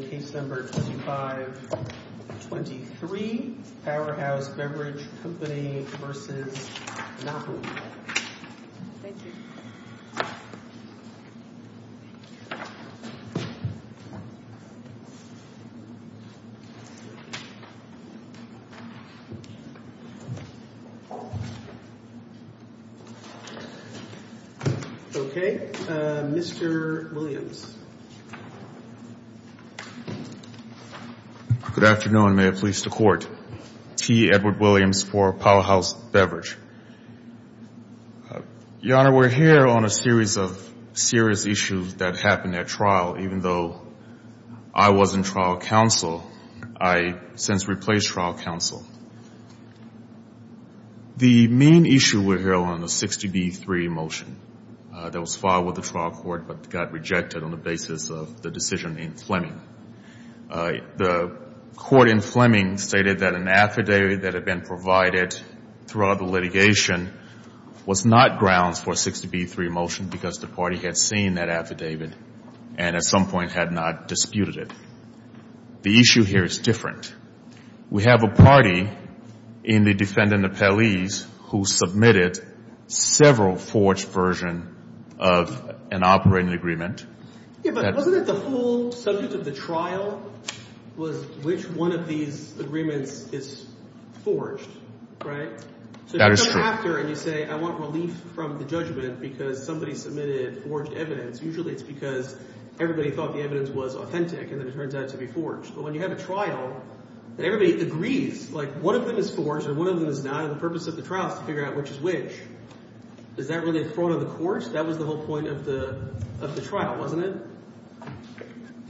Okay, Mr. Williams. Good afternoon. May it please the court. T. Edward Williams for Powerhouse Beverage. Your honor, we're here on a series of serious issues that happened at trial. Even though I was in trial counsel, I since replaced trial counsel. The main issue we're here on the 60b3 motion that was filed with the trial court but got rejected on the basis of the decision in Fleming. The court in Fleming stated that an affidavit that had been provided throughout the litigation was not grounds for a 60b3 motion because the party had seen that affidavit and at some point had not disputed it. The issue here is different. We have a party in the defendant appellees who submitted several forged versions of an operating agreement. Yeah, but wasn't it the whole subject of the trial was which one of these agreements is forged, right? That is true. So if you come after and you say I want relief from the judgment because somebody submitted forged evidence, usually it's because everybody thought the evidence was authentic and then it turns out to be forged. But when you have a trial, everybody agrees like one of them is forged and one of them is not. The purpose of the trial is to figure out which is which. Is that really in front of the court? That was the whole point of the trial, wasn't it?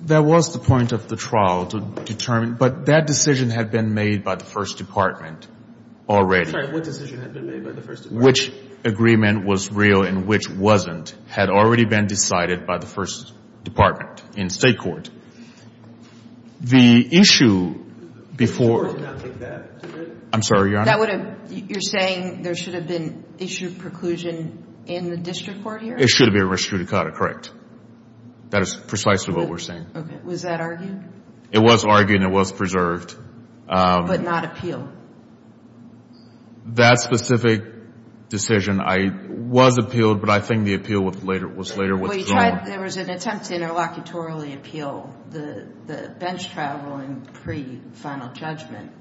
That was the point of the trial to determine, but that decision had been made by the first department already. Which agreement was real and which wasn't had already been decided by the first department in state court. The issue before... I'm sorry, Your Honor. You're saying there should have been issued preclusion in the district court hearing? It should have been res judicata, correct. That is precisely what we're saying. Okay. Was that argued? It was argued and it was preserved. But not appealed? That specific decision, it was appealed, but I think the appeal was later withdrawn. There was an attempt to interlocutorily appeal the bench traveling pre-final judgment.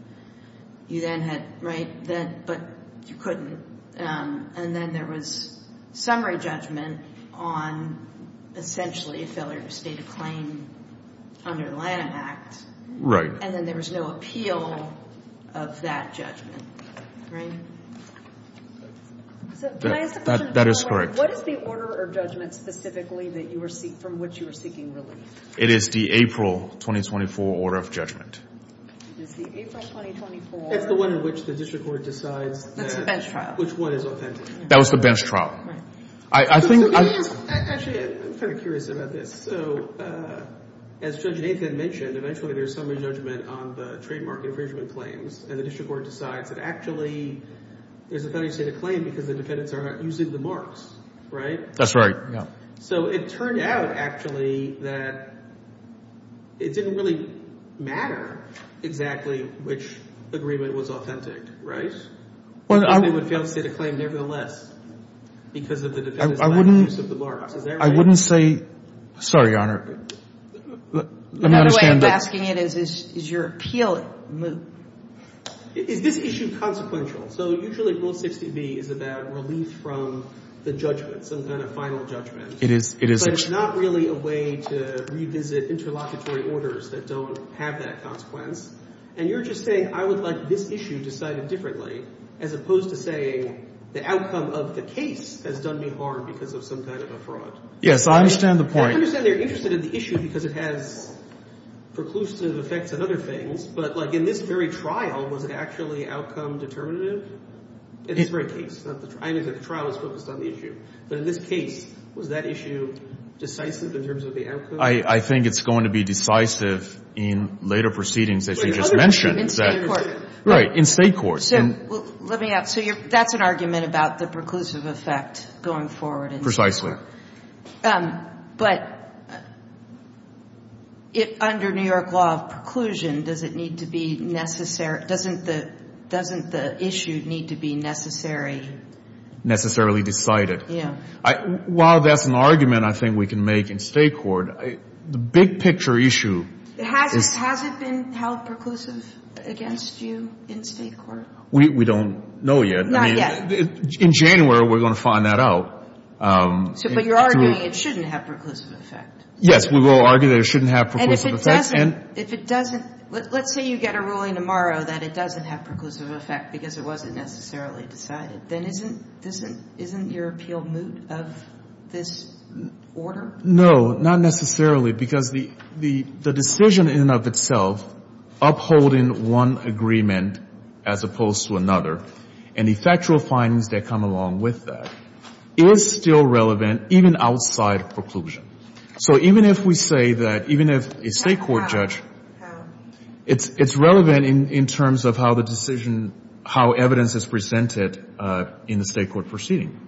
You then had... But you couldn't. And then there was summary judgment on essentially a failure to state a claim under the Lanham Act. And then there was no appeal of that judgment. Right? That is correct. What is the order or judgment specifically from which you are seeking relief? It is the April 2024 order of judgment. It is the April 2024... It's the one in which the district court decides... That's the bench trial. ...which one is authentic. That was the bench trial. Right. I think... Actually, I'm kind of curious about this. So as Judge Nathan mentioned, eventually there's summary judgment on the trademark infringement claims and the district court decides that actually there's a failure to state a claim because the defendants are not using the marks. Right? That's right. Yeah. So it turned out actually that it didn't really matter exactly which agreement was authentic. Right? Well, I... They would fail to state a claim nevertheless because of the defendants' lack of use of the marks. Is that right? I wouldn't say... Sorry, Your Honor. The way I'm asking it is, is your appeal... Is this issue consequential? So usually Rule 60B is about relief from the judgment, some kind of final judgment. It is. It is actually. But it's not really a way to revisit interlocutory orders that don't have that consequence. And you're just saying, I would like this issue decided differently, as opposed to saying the outcome of the case has done me harm because of some kind of a fraud. Yes, I understand the point. I understand they're interested in the issue because it has preclusive effects and other things. But like in this very trial, was it actually outcome determinative? In this very case. I mean, the trial is focused on the issue. But in this case, was that issue decisive in terms of the outcome? I think it's going to be decisive in later proceedings, as you just mentioned. In state court. Right. In state court. So let me ask... So that's an argument about the preclusive effect going forward in New York. Precisely. But under New York law of preclusion, does it need to be necessary? Doesn't the issue need to be necessary? Necessarily decided. Yeah. While that's an argument I think we can make in state court, the big picture issue... Has it been held preclusive against you in state court? We don't know yet. Not yet. In January, we're going to find that out. But you're arguing it shouldn't have preclusive effect. Yes, we will argue that it shouldn't have preclusive effect. And if it doesn't, let's say you get a ruling tomorrow that it doesn't have preclusive effect because it wasn't necessarily decided, then isn't your appeal moot of this order? No, not necessarily because the decision in and of itself upholding one agreement as opposed to another and the factual findings that come along with that is still relevant even outside preclusion. So even if we say that, even if a state court judge... How? It's relevant in terms of how the decision, how evidence is presented in the state court proceeding.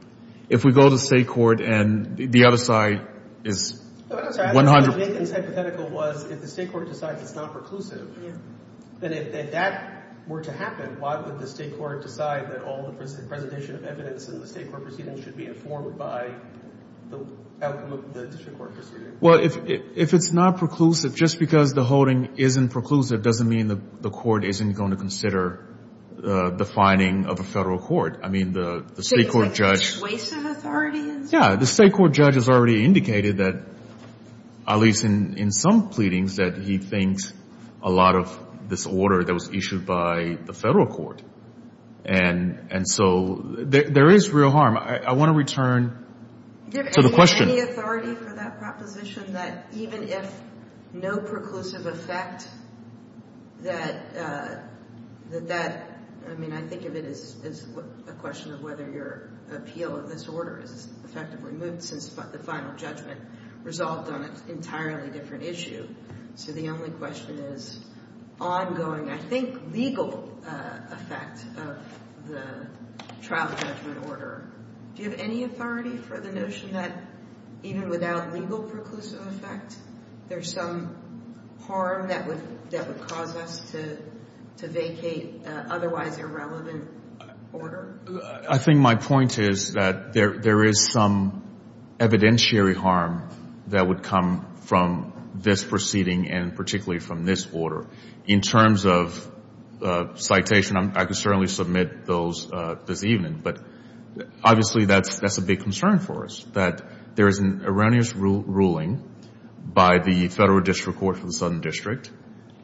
If we go to state court and the other side is 100... I was going to say the myth and hypothetical was if the state court decides it's not preclusive, then if that were to happen, why would the state court decide that all the presentation of evidence in the state court proceeding should be informed by the outcome of the district court proceeding? Well, if it's not preclusive, just because the holding isn't preclusive doesn't mean the court isn't going to consider the finding of a federal court. I mean, the state court judge... So it's a waste of authority? Yeah. The state court judge has already indicated that, at least in some pleadings, that he thinks a lot of this order that was issued by the federal court. And so there is real harm. I want to return to the question... Is there any authority for that proposition that even if no preclusive effect that... I mean, I think of it as a question of whether your appeal of this order is effectively moved since the final judgment resolved on an entirely different issue. So the only question is ongoing, I think, legal effect of the trial judgment order. Do you have any authority for the notion that even without legal preclusive effect, there's some harm that would cause us to vacate otherwise irrelevant order? I think my point is that there is some evidentiary harm that would come from this proceeding and particularly from this order. In terms of citation, I can certainly submit those this evening. But that's a big concern for us, that there is an erroneous ruling by the federal district court for the Southern District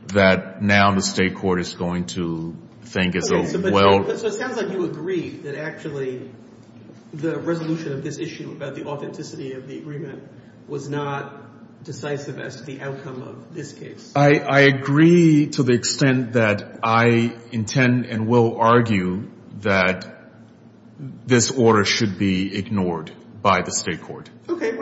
that now the state court is going to think is a well... So it sounds like you agree that actually the resolution of this issue about the authenticity of the agreement was not decisive as to the outcome of this case. I agree to the extent that I intend and will argue that this order should be ignored by the state court.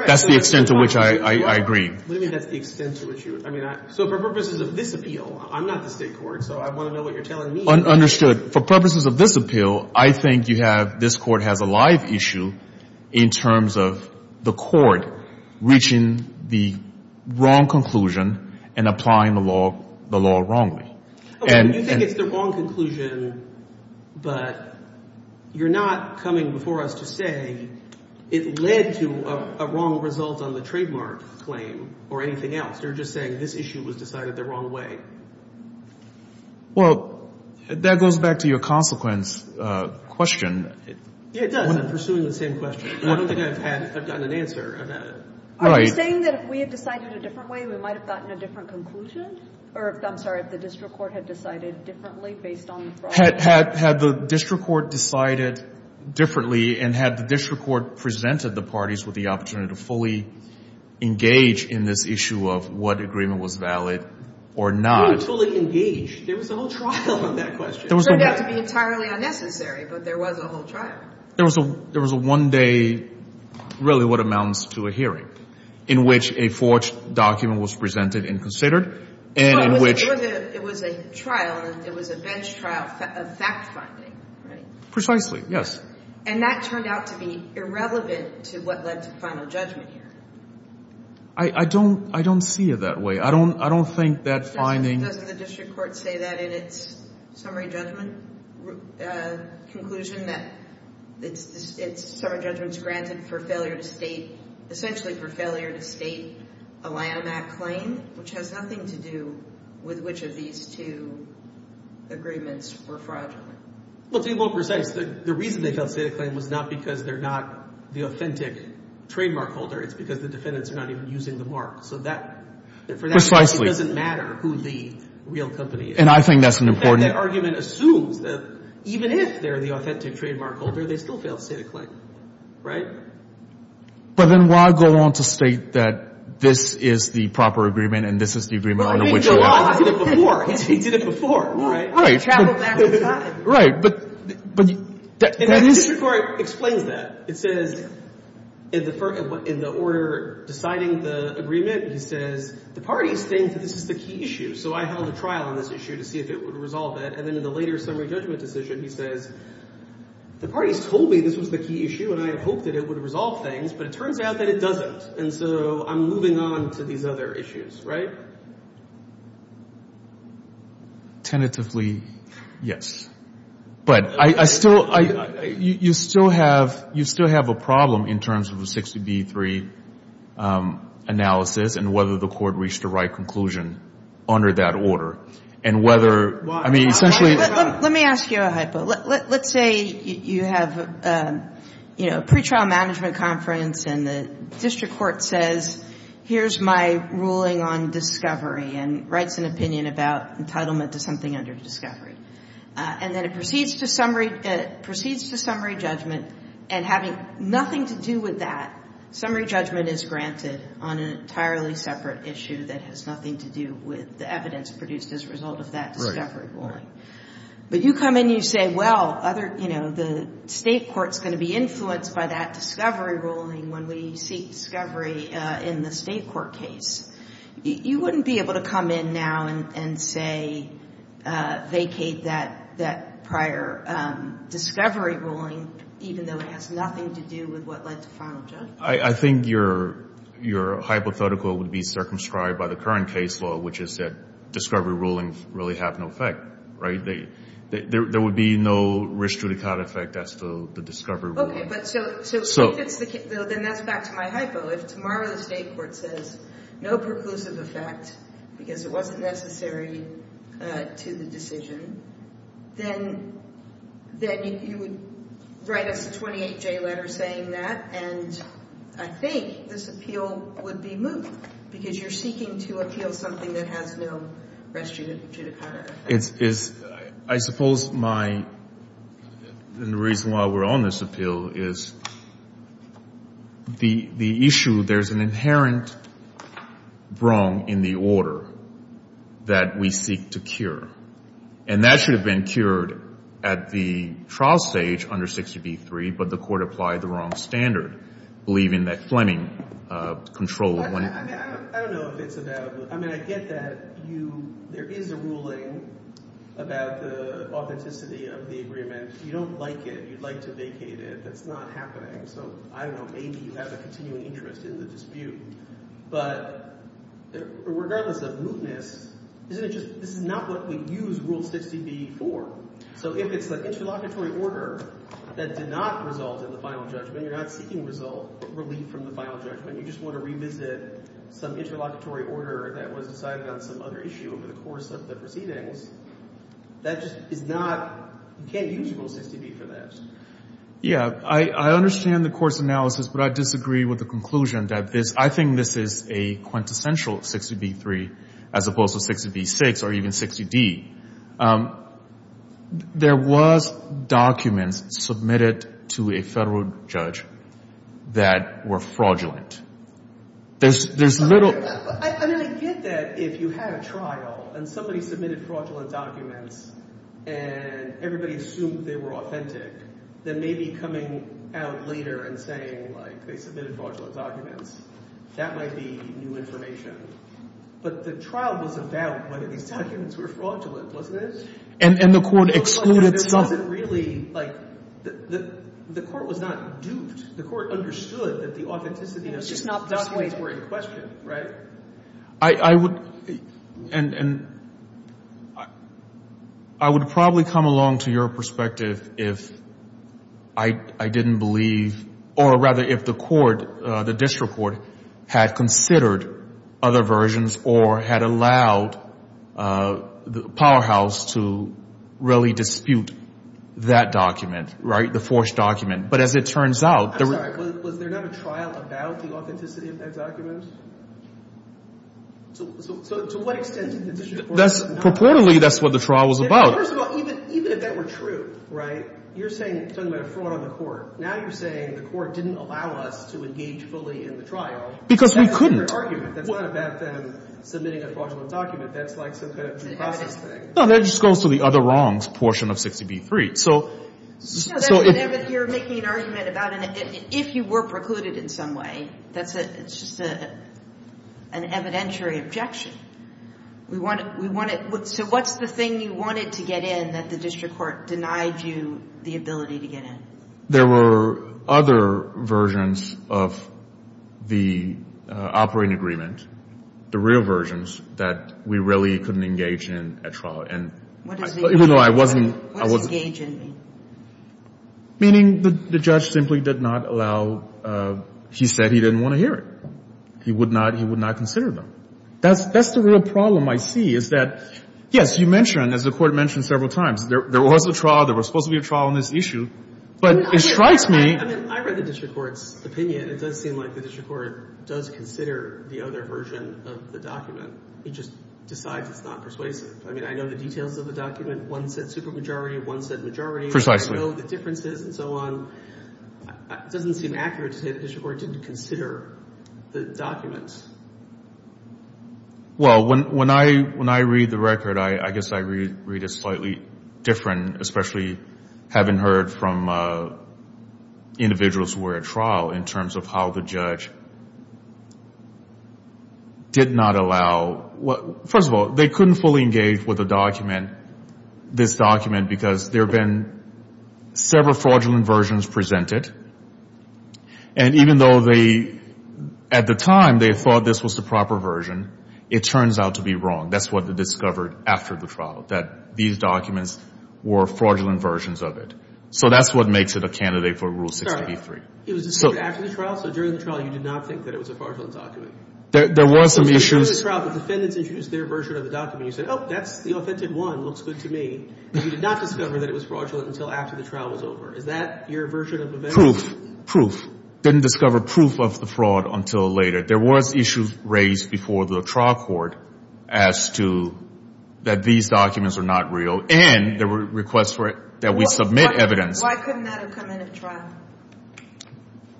That's the extent to which I agree. What do you mean that's the extent to which you... I mean, so for purposes of this appeal, I'm not the state court, so I want to know what you're telling me. Understood. For purposes of this appeal, I think you have... this court has a live issue in terms of the court reaching the wrong conclusion and applying the law wrongly. Okay. You think it's the wrong conclusion, but you're not coming before us to say it led to a wrong result on the trademark claim or anything else. You're just saying this issue was decided the wrong way. Well, that goes back to your consequence question. Yeah, it does. I'm pursuing the same question. I don't think I've gotten an answer. Are you saying that if we had decided a different way, we might have gotten a different conclusion? Or I'm sorry, if the district court had decided differently based on the fraud? Had the district court decided differently and had the district court presented the parties with the opportunity to fully engage in this issue of what agreement was valid or not? Fully engage? There was a whole trial on that question. Turned out to be entirely unnecessary, but there was a whole trial. There was a one-day, really what amounts to a hearing, in which a forged document was presented and considered, and in which... It was a trial. It was a bench trial of fact-finding, right? Precisely, yes. And that turned out to be irrelevant to what led to final judgment here. I don't see it that way. I don't think that finding... Doesn't the district court say that in its summary judgment conclusion, that it's summary judgment is granted for failure to state, essentially for failure to state a Lanham Act claim, which has nothing to do with which of these two agreements were fraudulent? Well, to be more precise, the reason they failed to state a claim was not because they're not the authentic trademark holder. It's because the defendants are not even using the mark. So that... Precisely. It doesn't matter who the real company is. And I think that's an important... That argument assumes that even if they're the authentic trademark holder, they still fail to state a claim, right? But then why go on to state that this is the proper agreement, and this is the agreement under which you are... I mean, go on. He did it before. He did it before, right? Right. He traveled back in time. Right, but that is... And the district court explains that. It says, in the order deciding the agreement, he says, the parties think that this is the key issue. So I held a trial on this issue to see if it would resolve it. And then in the later summary judgment decision, he says, the parties told me this was the key issue, and I had hoped that it would resolve things, but it turns out that it doesn't. And so I'm moving on to these other issues, right? Tentatively, yes. But I still... You still have a problem in terms of the 60B3 analysis and whether the court reached the right conclusion under that order. And whether... I mean, essentially... Let me ask you a hypo. Let's say you have a pretrial management conference, and the district court says, here's my ruling on discovery, and writes an opinion about entitlement to something under discovery. And then it proceeds to summary judgment. And having nothing to do with that, summary judgment is granted on an entirely separate issue that has nothing to do with the evidence produced as a result of that discovery ruling. But you come in, you say, well, the state court's going to be influenced by that discovery ruling when we seek discovery in the state court case. You wouldn't be able to come in now and say, vacate that prior discovery ruling, even though it has nothing to do with what led to final judgment. I think your hypothetical would be circumscribed by the current case law, which is that discovery rulings really have no effect, right? There would be no risk to the kind of effect as to the discovery ruling. Okay, but so if it's the case... Then that's back to my hypo. If tomorrow the state court says no preclusive effect because it wasn't necessary to the decision, then you would write us a 28-J letter saying that. And I think this appeal would be moved because you're seeking to appeal something that has no restrictive effect. It's... I suppose my... And the reason why we're on this appeal is because the issue... There's an inherent wrong in the order that we seek to cure. And that should have been cured at the trial stage under 60b-3, but the court applied the wrong standard, believing that Fleming controlled when... I mean, I don't know if it's about... I mean, I get that you... There is a ruling about the authenticity of the agreement. You don't like it. You'd like to vacate it. That's not happening. So I don't know. Maybe you have a continuing interest in the dispute. But regardless of mootness, isn't it just... This is not what we use Rule 60b for. So if it's the interlocutory order that did not result in the final judgment, you're not seeking result... Relief from the final judgment. You just want to revisit some interlocutory order that was decided on some other issue over the course of the proceedings. That just is not... You can't use Rule 60b for that. Yeah, I understand the court's analysis, but I disagree with the conclusion that this... I think this is a quintessential 60b-3, as opposed to 60b-6 or even 60d. There was documents submitted to a federal judge that were fraudulent. There's little... I mean, I get that if you had a trial and somebody submitted fraudulent documents and everybody assumed they were authentic, then maybe coming out later and saying, like, they submitted fraudulent documents, that might be new information. But the trial was about whether these documents were fraudulent, wasn't it? And the court excluded... It wasn't really, like... The court was not duped. The court understood that the authenticity... It was just not persuaded. ...were in question, right? I would... I would probably come along to your perspective if I didn't believe... Or rather, if the court, the district court, had considered other versions or had allowed the powerhouse to really dispute that document, right? The forged document. But as it turns out... I'm sorry. Was there not a trial about the authenticity of that document? So to what extent did the district court... That's... Purportedly, that's what the trial was about. First of all, even if that were true, right? You're saying... Talking about a fraud on the court. Now you're saying the court didn't allow us to engage fully in the trial. Because we couldn't. That's not a fair argument. That's not about them submitting a fraudulent document. That's like some kind of due process thing. No, that just goes to the other wrongs portion of 60b-3. So... No, but you're making an argument about... If you were precluded in some way, it's just an evidentiary objection. So what's the thing you wanted to get in that the district court denied you the ability to get in? There were other versions of the operating agreement, the real versions that we really couldn't engage in a trial. And even though I wasn't... What does engage in mean? Meaning the judge simply did not allow... He said he didn't want to hear it. He would not consider them. That's the real problem I see, is that... Yes, you mentioned, as the court mentioned several times, there was a trial. There was supposed to be a trial on this issue. But it strikes me... I mean, I read the district court's opinion. It does seem like the district court does consider the other version of the document. He just decides it's not persuasive. I mean, I know the details of the document. One said supermajority, one said majority. Precisely. I know the differences and so on. It doesn't seem accurate to say the district court didn't consider the documents. Well, when I read the record, I guess I read it slightly different, especially having heard from individuals who were at trial in terms of how the judge did not allow... First of all, they couldn't fully engage with the document, this document, because there have been several fraudulent versions presented. And even though they, at the time, they thought this was the proper version, it turns out to be wrong. That's what they discovered after the trial, that these documents were fraudulent versions of it. So that's what makes it a candidate for Rule 63. It was discovered after the trial? So during the trial, you did not think that it was a fraudulent document? There were some issues... During the trial, the defendants introduced their version of the document. You said, oh, that's the authentic one. Looks good to me. But you did not discover that it was fraudulent until after the trial was over. Is that your version of the... Proof. Proof. Didn't discover proof of the fraud until later. There was issues raised before the trial court as to that these documents are not real. And there were requests for it, that we submit evidence. Why couldn't that have come in at trial?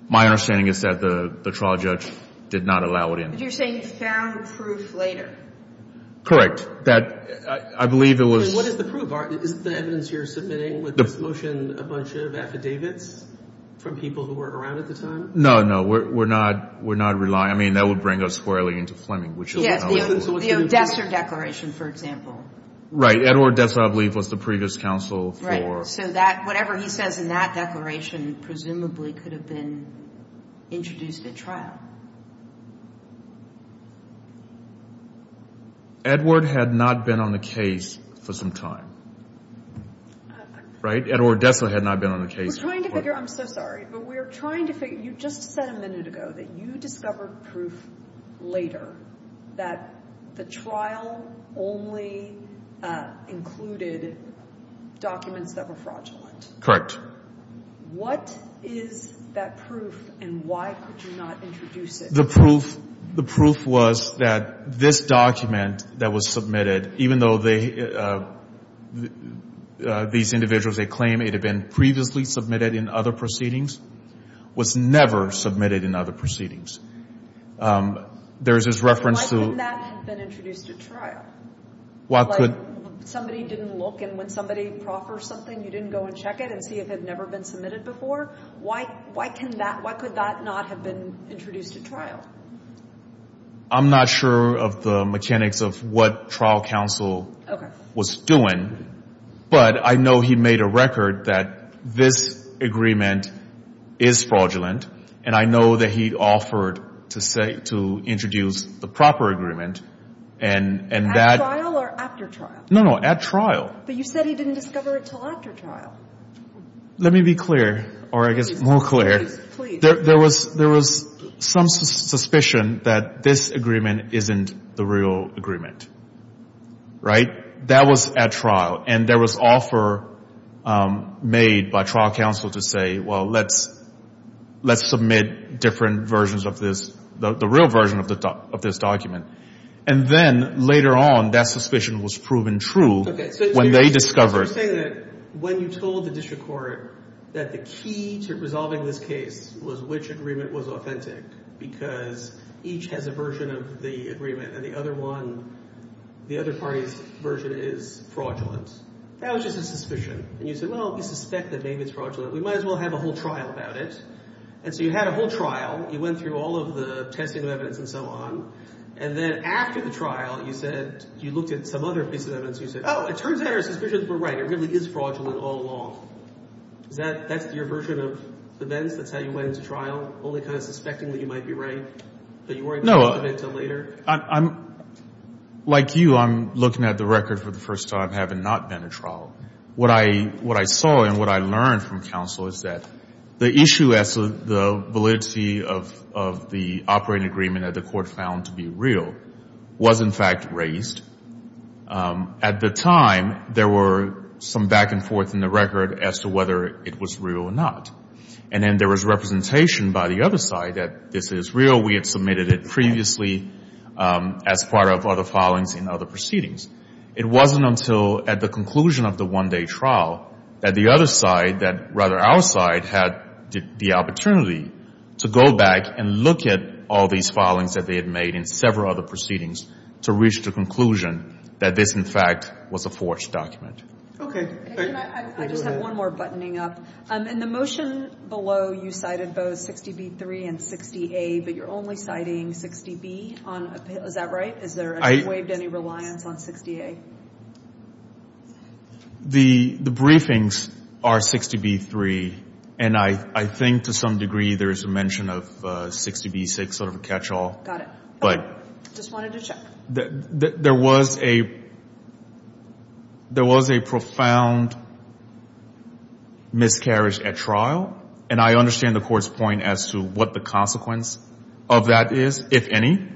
My understanding is that the trial judge did not allow it in. But you're saying he found proof later? Correct. That, I believe it was... What is the proof? Is it the evidence you're submitting? This motion, a bunch of affidavits from people who were around at the time? No, no, we're not relying. I mean, that would bring us squarely into Fleming, which is... Yes, the Odessa Declaration, for example. Right. Edward Odessa, I believe, was the previous counsel for... Right. So that, whatever he says in that declaration, presumably could have been introduced at trial. Edward had not been on the case for some time. I... Right? Edward Odessa had not been on the case. We're trying to figure... I'm so sorry. But we're trying to figure... You just said a minute ago that you discovered proof later that the trial only included documents that were fraudulent. Correct. What is that proof, and why could you not introduce it? The proof was that this document that was submitted, even though these individuals, they claim it had been previously submitted in other proceedings, was never submitted in other proceedings. There's this reference to... But why couldn't that have been introduced at trial? Why could... Somebody didn't look, and when somebody proffers something, you didn't go and check it and see if it had never been submitted before? Why could that not have been introduced at trial? I'm not sure of the mechanics of what trial counsel was doing, but I know he made a record that this agreement is fraudulent, and I know that he offered to introduce the proper agreement, and that... At trial or after trial? No, no, at trial. But you said he didn't discover it until after trial. Let me be clear, or I guess more clear. Please, please. There was some suspicion that this agreement isn't the real agreement, right? That was at trial, and there was offer made by trial counsel to say, well, let's submit different versions of this, the real version of this document. And then later on, that suspicion was proven true when they discovered... So you're saying that when you told the district court that the key to resolving this case was which agreement was authentic, because each has a version of the agreement, and the other one, the other party's version is fraudulent. That was just a suspicion. And you said, well, we suspect that maybe it's fraudulent. We might as well have a whole trial about it. And so you had a whole trial. You went through all of the testing of evidence and so on. And then after the trial, you said, you looked at some other pieces of evidence. You said, oh, it turns out our suspicions were right. It really is fraudulent all along. That's your version of events? That's how you went into trial? Only kind of suspecting that you might be right, but you weren't going to submit until later? Like you, I'm looking at the record for the first time, having not been at trial. What I saw and what I learned from counsel is that the issue as to the validity of the operating agreement that the court found to be real was, in fact, raised. At the time, there were some back and forth in the record as to whether it was real or not. And then there was representation by the other side that this is real. We had submitted it previously as part of other filings and other proceedings. It wasn't until at the conclusion of the one-day trial that the other side, that rather our side, had the opportunity to go back and look at all these filings that they had made in several other proceedings to reach the conclusion that this, in fact, was a forged document. Okay. I just have one more buttoning up. In the motion below, you cited both 60B3 and 60A, but you're only citing 60B on appeal. Is that right? Has there been waived any reliance on 60A? The briefings are 60B3, and I think to some degree there is a mention of 60B6, sort of a catch-all. Got it. Just wanted to check. There was a profound miscarriage at trial, and I understand the Court's point as to what the consequence of that is, if any.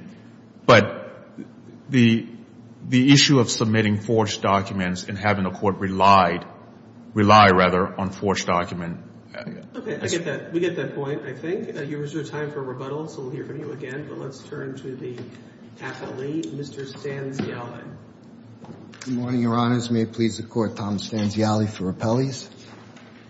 But the issue of submitting forged documents and having the Court rely, rely rather, on forged documents. Okay, I get that. We get that point, I think. You reserved time for rebuttal, so we'll hear from you again. Let's turn to the appellee, Mr. Stanziali. Good morning, Your Honors. May it please the Court, Tom Stanziali for Appellees.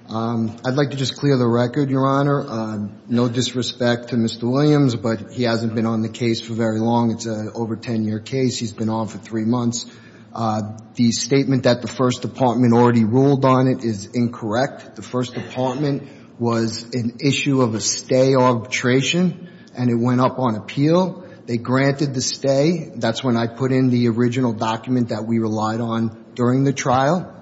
I'd like to just clear the record, Your Honor. No disrespect to Mr. Williams, but he hasn't been on the case for very long. It's an over 10-year case. He's been on for three months. The statement that the First Department already ruled on it is incorrect. The First Department was an issue of a stay arbitration, and it went up on appeal. They granted the stay. That's when I put in the original document that we relied on during the trial,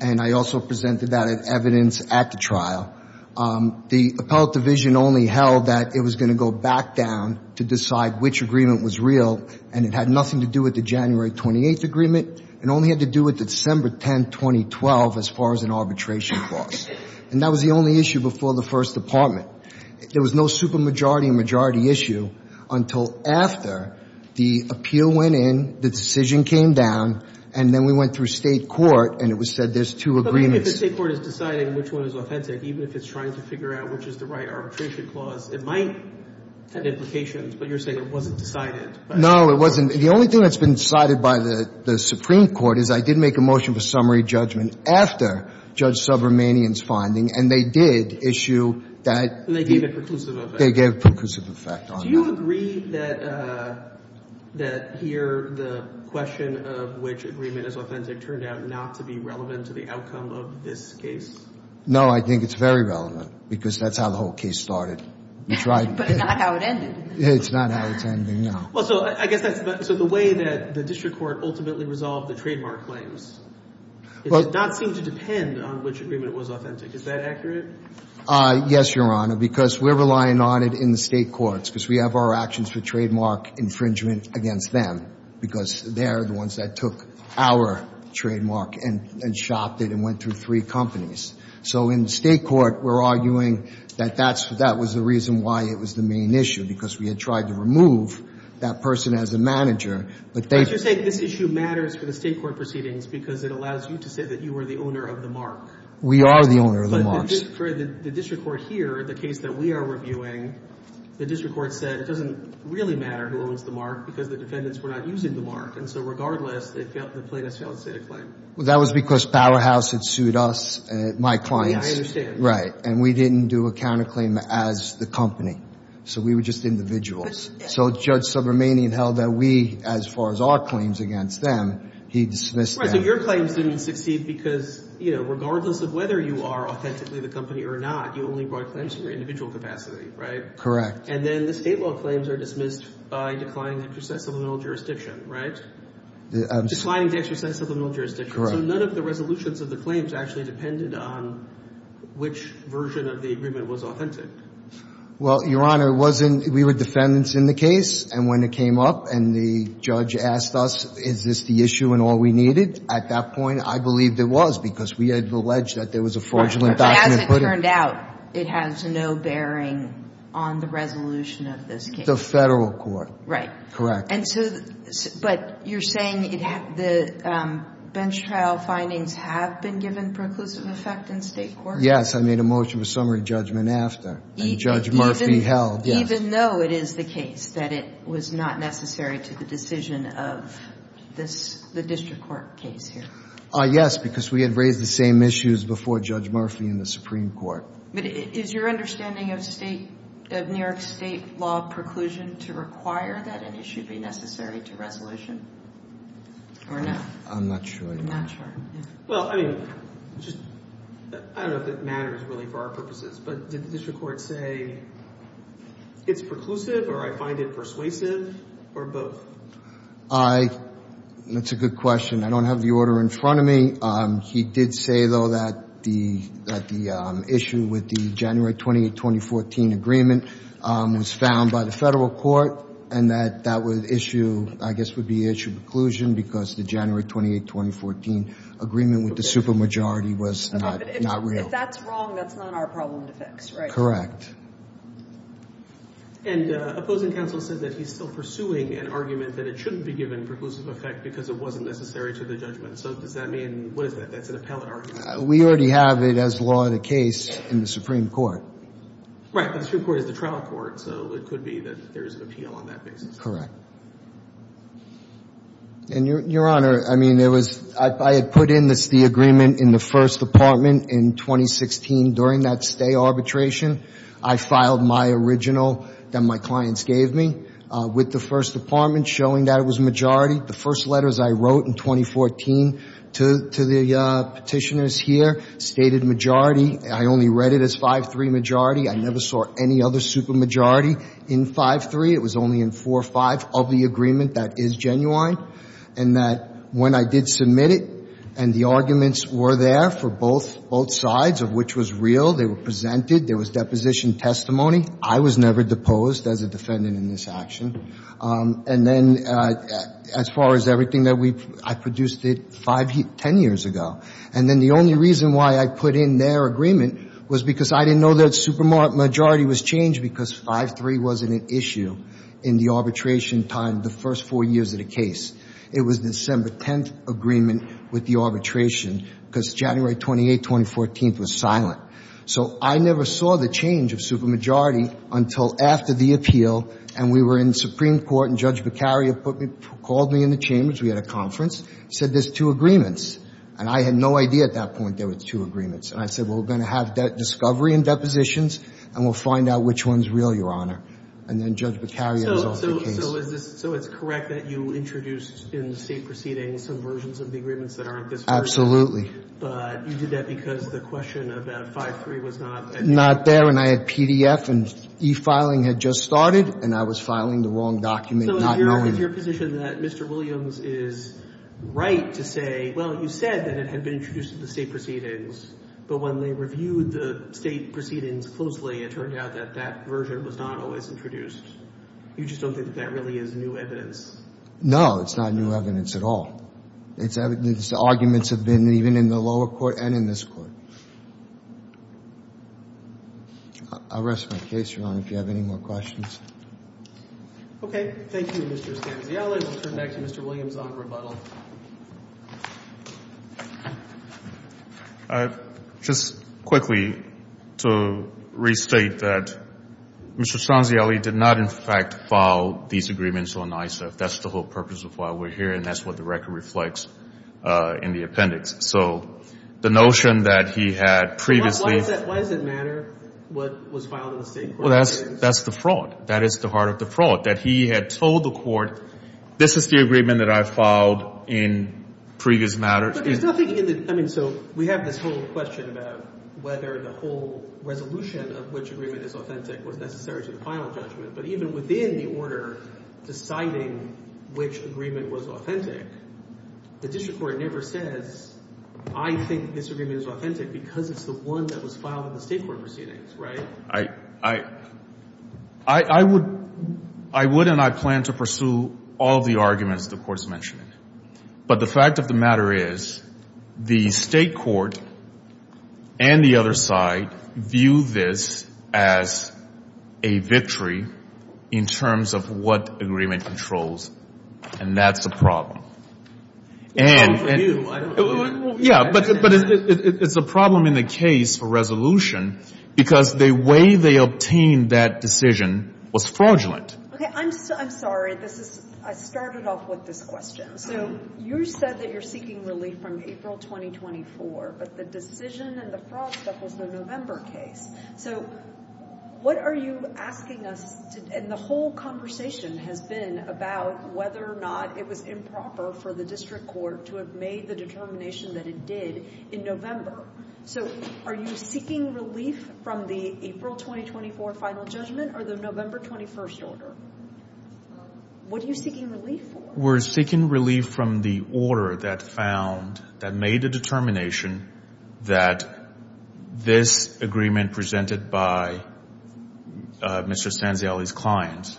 and I also presented that as evidence at the trial. The Appellate Division only held that it was going to go back down to decide which agreement was real, and it had nothing to do with the January 28th agreement. It only had to do with December 10, 2012, as far as an arbitration clause. That was the only issue before the First Department. There was no supermajority and majority issue until after the appeal went in, the decision came down, and then we went through state court, and it was said there's two agreements. But even if the state court is deciding which one is authentic, even if it's trying to figure out which is the right arbitration clause, it might have implications, but you're saying it wasn't decided. No, it wasn't. The only thing that's been decided by the Supreme Court is I did make a motion for summary finding, and they did issue that. And they gave a preclusive effect. They gave a preclusive effect on that. Do you agree that here the question of which agreement is authentic turned out not to be relevant to the outcome of this case? No, I think it's very relevant, because that's how the whole case started. But it's not how it ended. It's not how it's ending, no. Well, so I guess that's the way that the district court ultimately resolved the trademark claims. It did not seem to depend on which agreement was authentic. Is that accurate? Yes, Your Honor, because we're relying on it in the state courts, because we have our actions for trademark infringement against them, because they're the ones that took our trademark and shopped it and went through three companies. So in the state court, we're arguing that that was the reason why it was the main issue, because we had tried to remove that person as a manager. But you're saying this issue matters for the state court proceedings, because it allows you to say that you were the owner of the mark. We are the owner of the marks. But for the district court here, the case that we are reviewing, the district court said it doesn't really matter who owns the mark, because the defendants were not using the mark. And so regardless, the plaintiffs failed to state a claim. That was because Powerhouse had sued us, my clients. Yeah, I understand. Right. And we didn't do a counterclaim as the company. So we were just individuals. So Judge Subramanian held that we, as far as our claims against them, he dismissed them. So your claims didn't succeed because, you know, regardless of whether you are authentically the company or not, you only brought claims to your individual capacity, right? Correct. And then the state law claims are dismissed by declining to exercise subliminal jurisdiction, right? Declining to exercise subliminal jurisdiction. Correct. So none of the resolutions of the claims actually depended on which version of the agreement was authentic. Well, Your Honor, it wasn't. We were defendants in the case. And when it came up and the judge asked us, is this the issue and all we needed? At that point, I believed it was, because we had alleged that there was a fraudulent document. As it turned out, it has no bearing on the resolution of this case. The federal court. Right. Correct. And so, but you're saying the bench trial findings have been given preclusive effect in state court? Yes. I made a motion for summary judgment after. And Judge Murphy held, yes. Even though it is the case that it was not necessary to the decision of the district court case here? Yes, because we had raised the same issues before Judge Murphy in the Supreme Court. But is your understanding of New York state law preclusion to require that an issue be necessary to resolution? Or not? I'm not sure. I'm not sure. Well, I mean, I don't know if it matters really for our purposes, but did the district court say it's preclusive, or I find it persuasive, or both? I, that's a good question. I don't have the order in front of me. He did say, though, that the issue with the January 28, 2014 agreement was found by the federal court. And that that issue, I guess, would be issue preclusion, because the January 28, 2014 agreement with the supermajority was not real. If that's wrong, that's not our problem to fix, right? Correct. And opposing counsel said that he's still pursuing an argument that it shouldn't be given preclusive effect because it wasn't necessary to the judgment. So does that mean, what is that? That's an appellate argument? We already have it as law of the case in the Supreme Court. Right, but the Supreme Court is the trial court. So it could be that there is an appeal on that basis. Correct. And Your Honor, I mean, there was, I had put in this, the agreement in the first department in 2016. During that stay arbitration, I filed my original that my clients gave me with the first department showing that it was majority. The first letters I wrote in 2014 to the petitioners here stated majority. I only read it as 5-3 majority. I never saw any other supermajority in 5-3. It was only in 4-5 of the agreement that is genuine. And that when I did submit it and the arguments were there for both sides of which was real, they were presented, there was deposition testimony. I was never deposed as a defendant in this action. And then as far as everything that we, I produced it five, ten years ago. And then the only reason why I put in their agreement was because I didn't know that supermajority was changed because 5-3 wasn't an issue in the arbitration time, the first four years of the case. It was December 10th agreement with the arbitration because January 28th, 2014th was silent. So I never saw the change of supermajority until after the appeal. And we were in Supreme Court and Judge Beccaria put me, called me in the chambers. We had a conference, said there's two agreements. And I had no idea at that point there were two agreements. And I said, well, we're going to have discovery and depositions. And we'll find out which one's real, Your Honor. And then Judge Beccaria was off the case. So is this, so it's correct that you introduced in the state proceedings some versions of the agreements that aren't this version? Absolutely. But you did that because the question about 5-3 was not an issue? Not there. And I had PDF and e-filing had just started. And I was filing the wrong document not knowing it. So is your position that Mr. Williams is right to say, well, you said that it had been introduced in the state proceedings, but when they reviewed the state proceedings closely, it turned out that that version was not always introduced? You just don't think that that really is new evidence? No, it's not new evidence at all. It's evidence, the arguments have been even in the lower court and in this court. I'll rest my case, Your Honor, if you have any more questions. Okay. Thank you, Mr. Stanziella. And we'll turn back to Mr. Williams on rebuttal. All right. Just quickly to restate that Mr. Stanziella did not, in fact, file these agreements on ISAF. That's the whole purpose of why we're here. And that's what the record reflects in the appendix. So the notion that he had previously... Why does it matter what was filed in the state court? Well, that's the fraud. That is the heart of the fraud, that he had told the court, this is the agreement that I filed in previous matters. I mean, so we have this whole question about whether the whole resolution of which agreement is authentic was necessary to the final judgment. But even within the order deciding which agreement was authentic, the district court never says, I think this agreement is authentic because it's the one that was filed in the state court proceedings, right? I would and I plan to pursue all of the arguments the court's mentioning. But the fact of the matter is the state court and the other side view this as a victory in terms of what agreement controls. And that's the problem. Yeah, but it's a problem in the case for resolution because the way they obtained that decision was fraudulent. Okay. I'm sorry. I started off with this question. So you said that you're seeking relief from April 2024, but the decision and the fraud stuff was the November case. So what are you asking us, and the whole conversation has been about whether or not it was improper for the district court to have made the determination that it did in So are you seeking relief from the April 2024 final judgment or the November 21st order? What are you seeking relief for? We're seeking relief from the order that found, that made a determination that this agreement presented by Mr. Sanziali's clients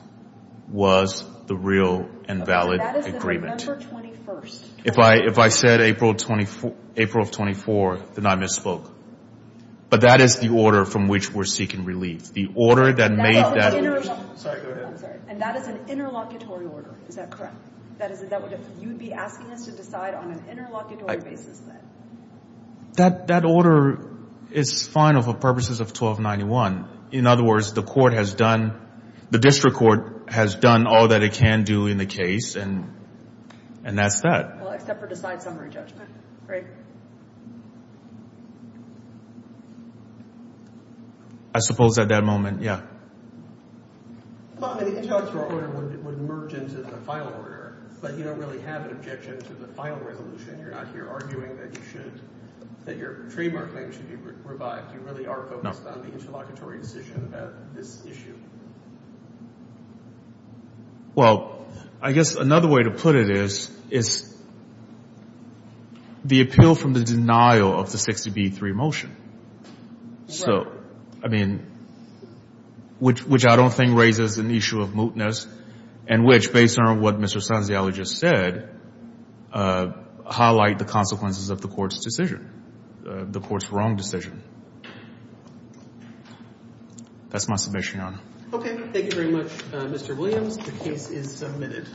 was the real and valid agreement. That is the November 21st. If I said April of 24, then I misspoke. But that is the order from which we're seeking relief. The order that made that... That is an interlocutor. Is that correct? That is it. That would... You'd be asking us to decide on an interlocutory basis then? That order is final for purposes of 1291. In other words, the court has done... The district court has done all that it can do in the case, and that's that. Well, except for decide summary judgment, right? I suppose at that moment, yeah. Well, I mean, the intellectual order would merge into the final order, but you don't really have an objection to the final resolution. You're not here arguing that you should... That your trademark claim should be revived. You really are focused on the interlocutory decision about this issue. Well, I guess another way to put it is, is the appeal from the denial of the 60B3 motion. Right. So, I mean, which I don't think raises an issue of mootness, and which, based on what Mr. Sanziali just said, highlight the consequences of the court's decision, the court's wrong decision. That's my submission, Your Honor. Okay. Thank you very much, Mr. Williams. The case is submitted.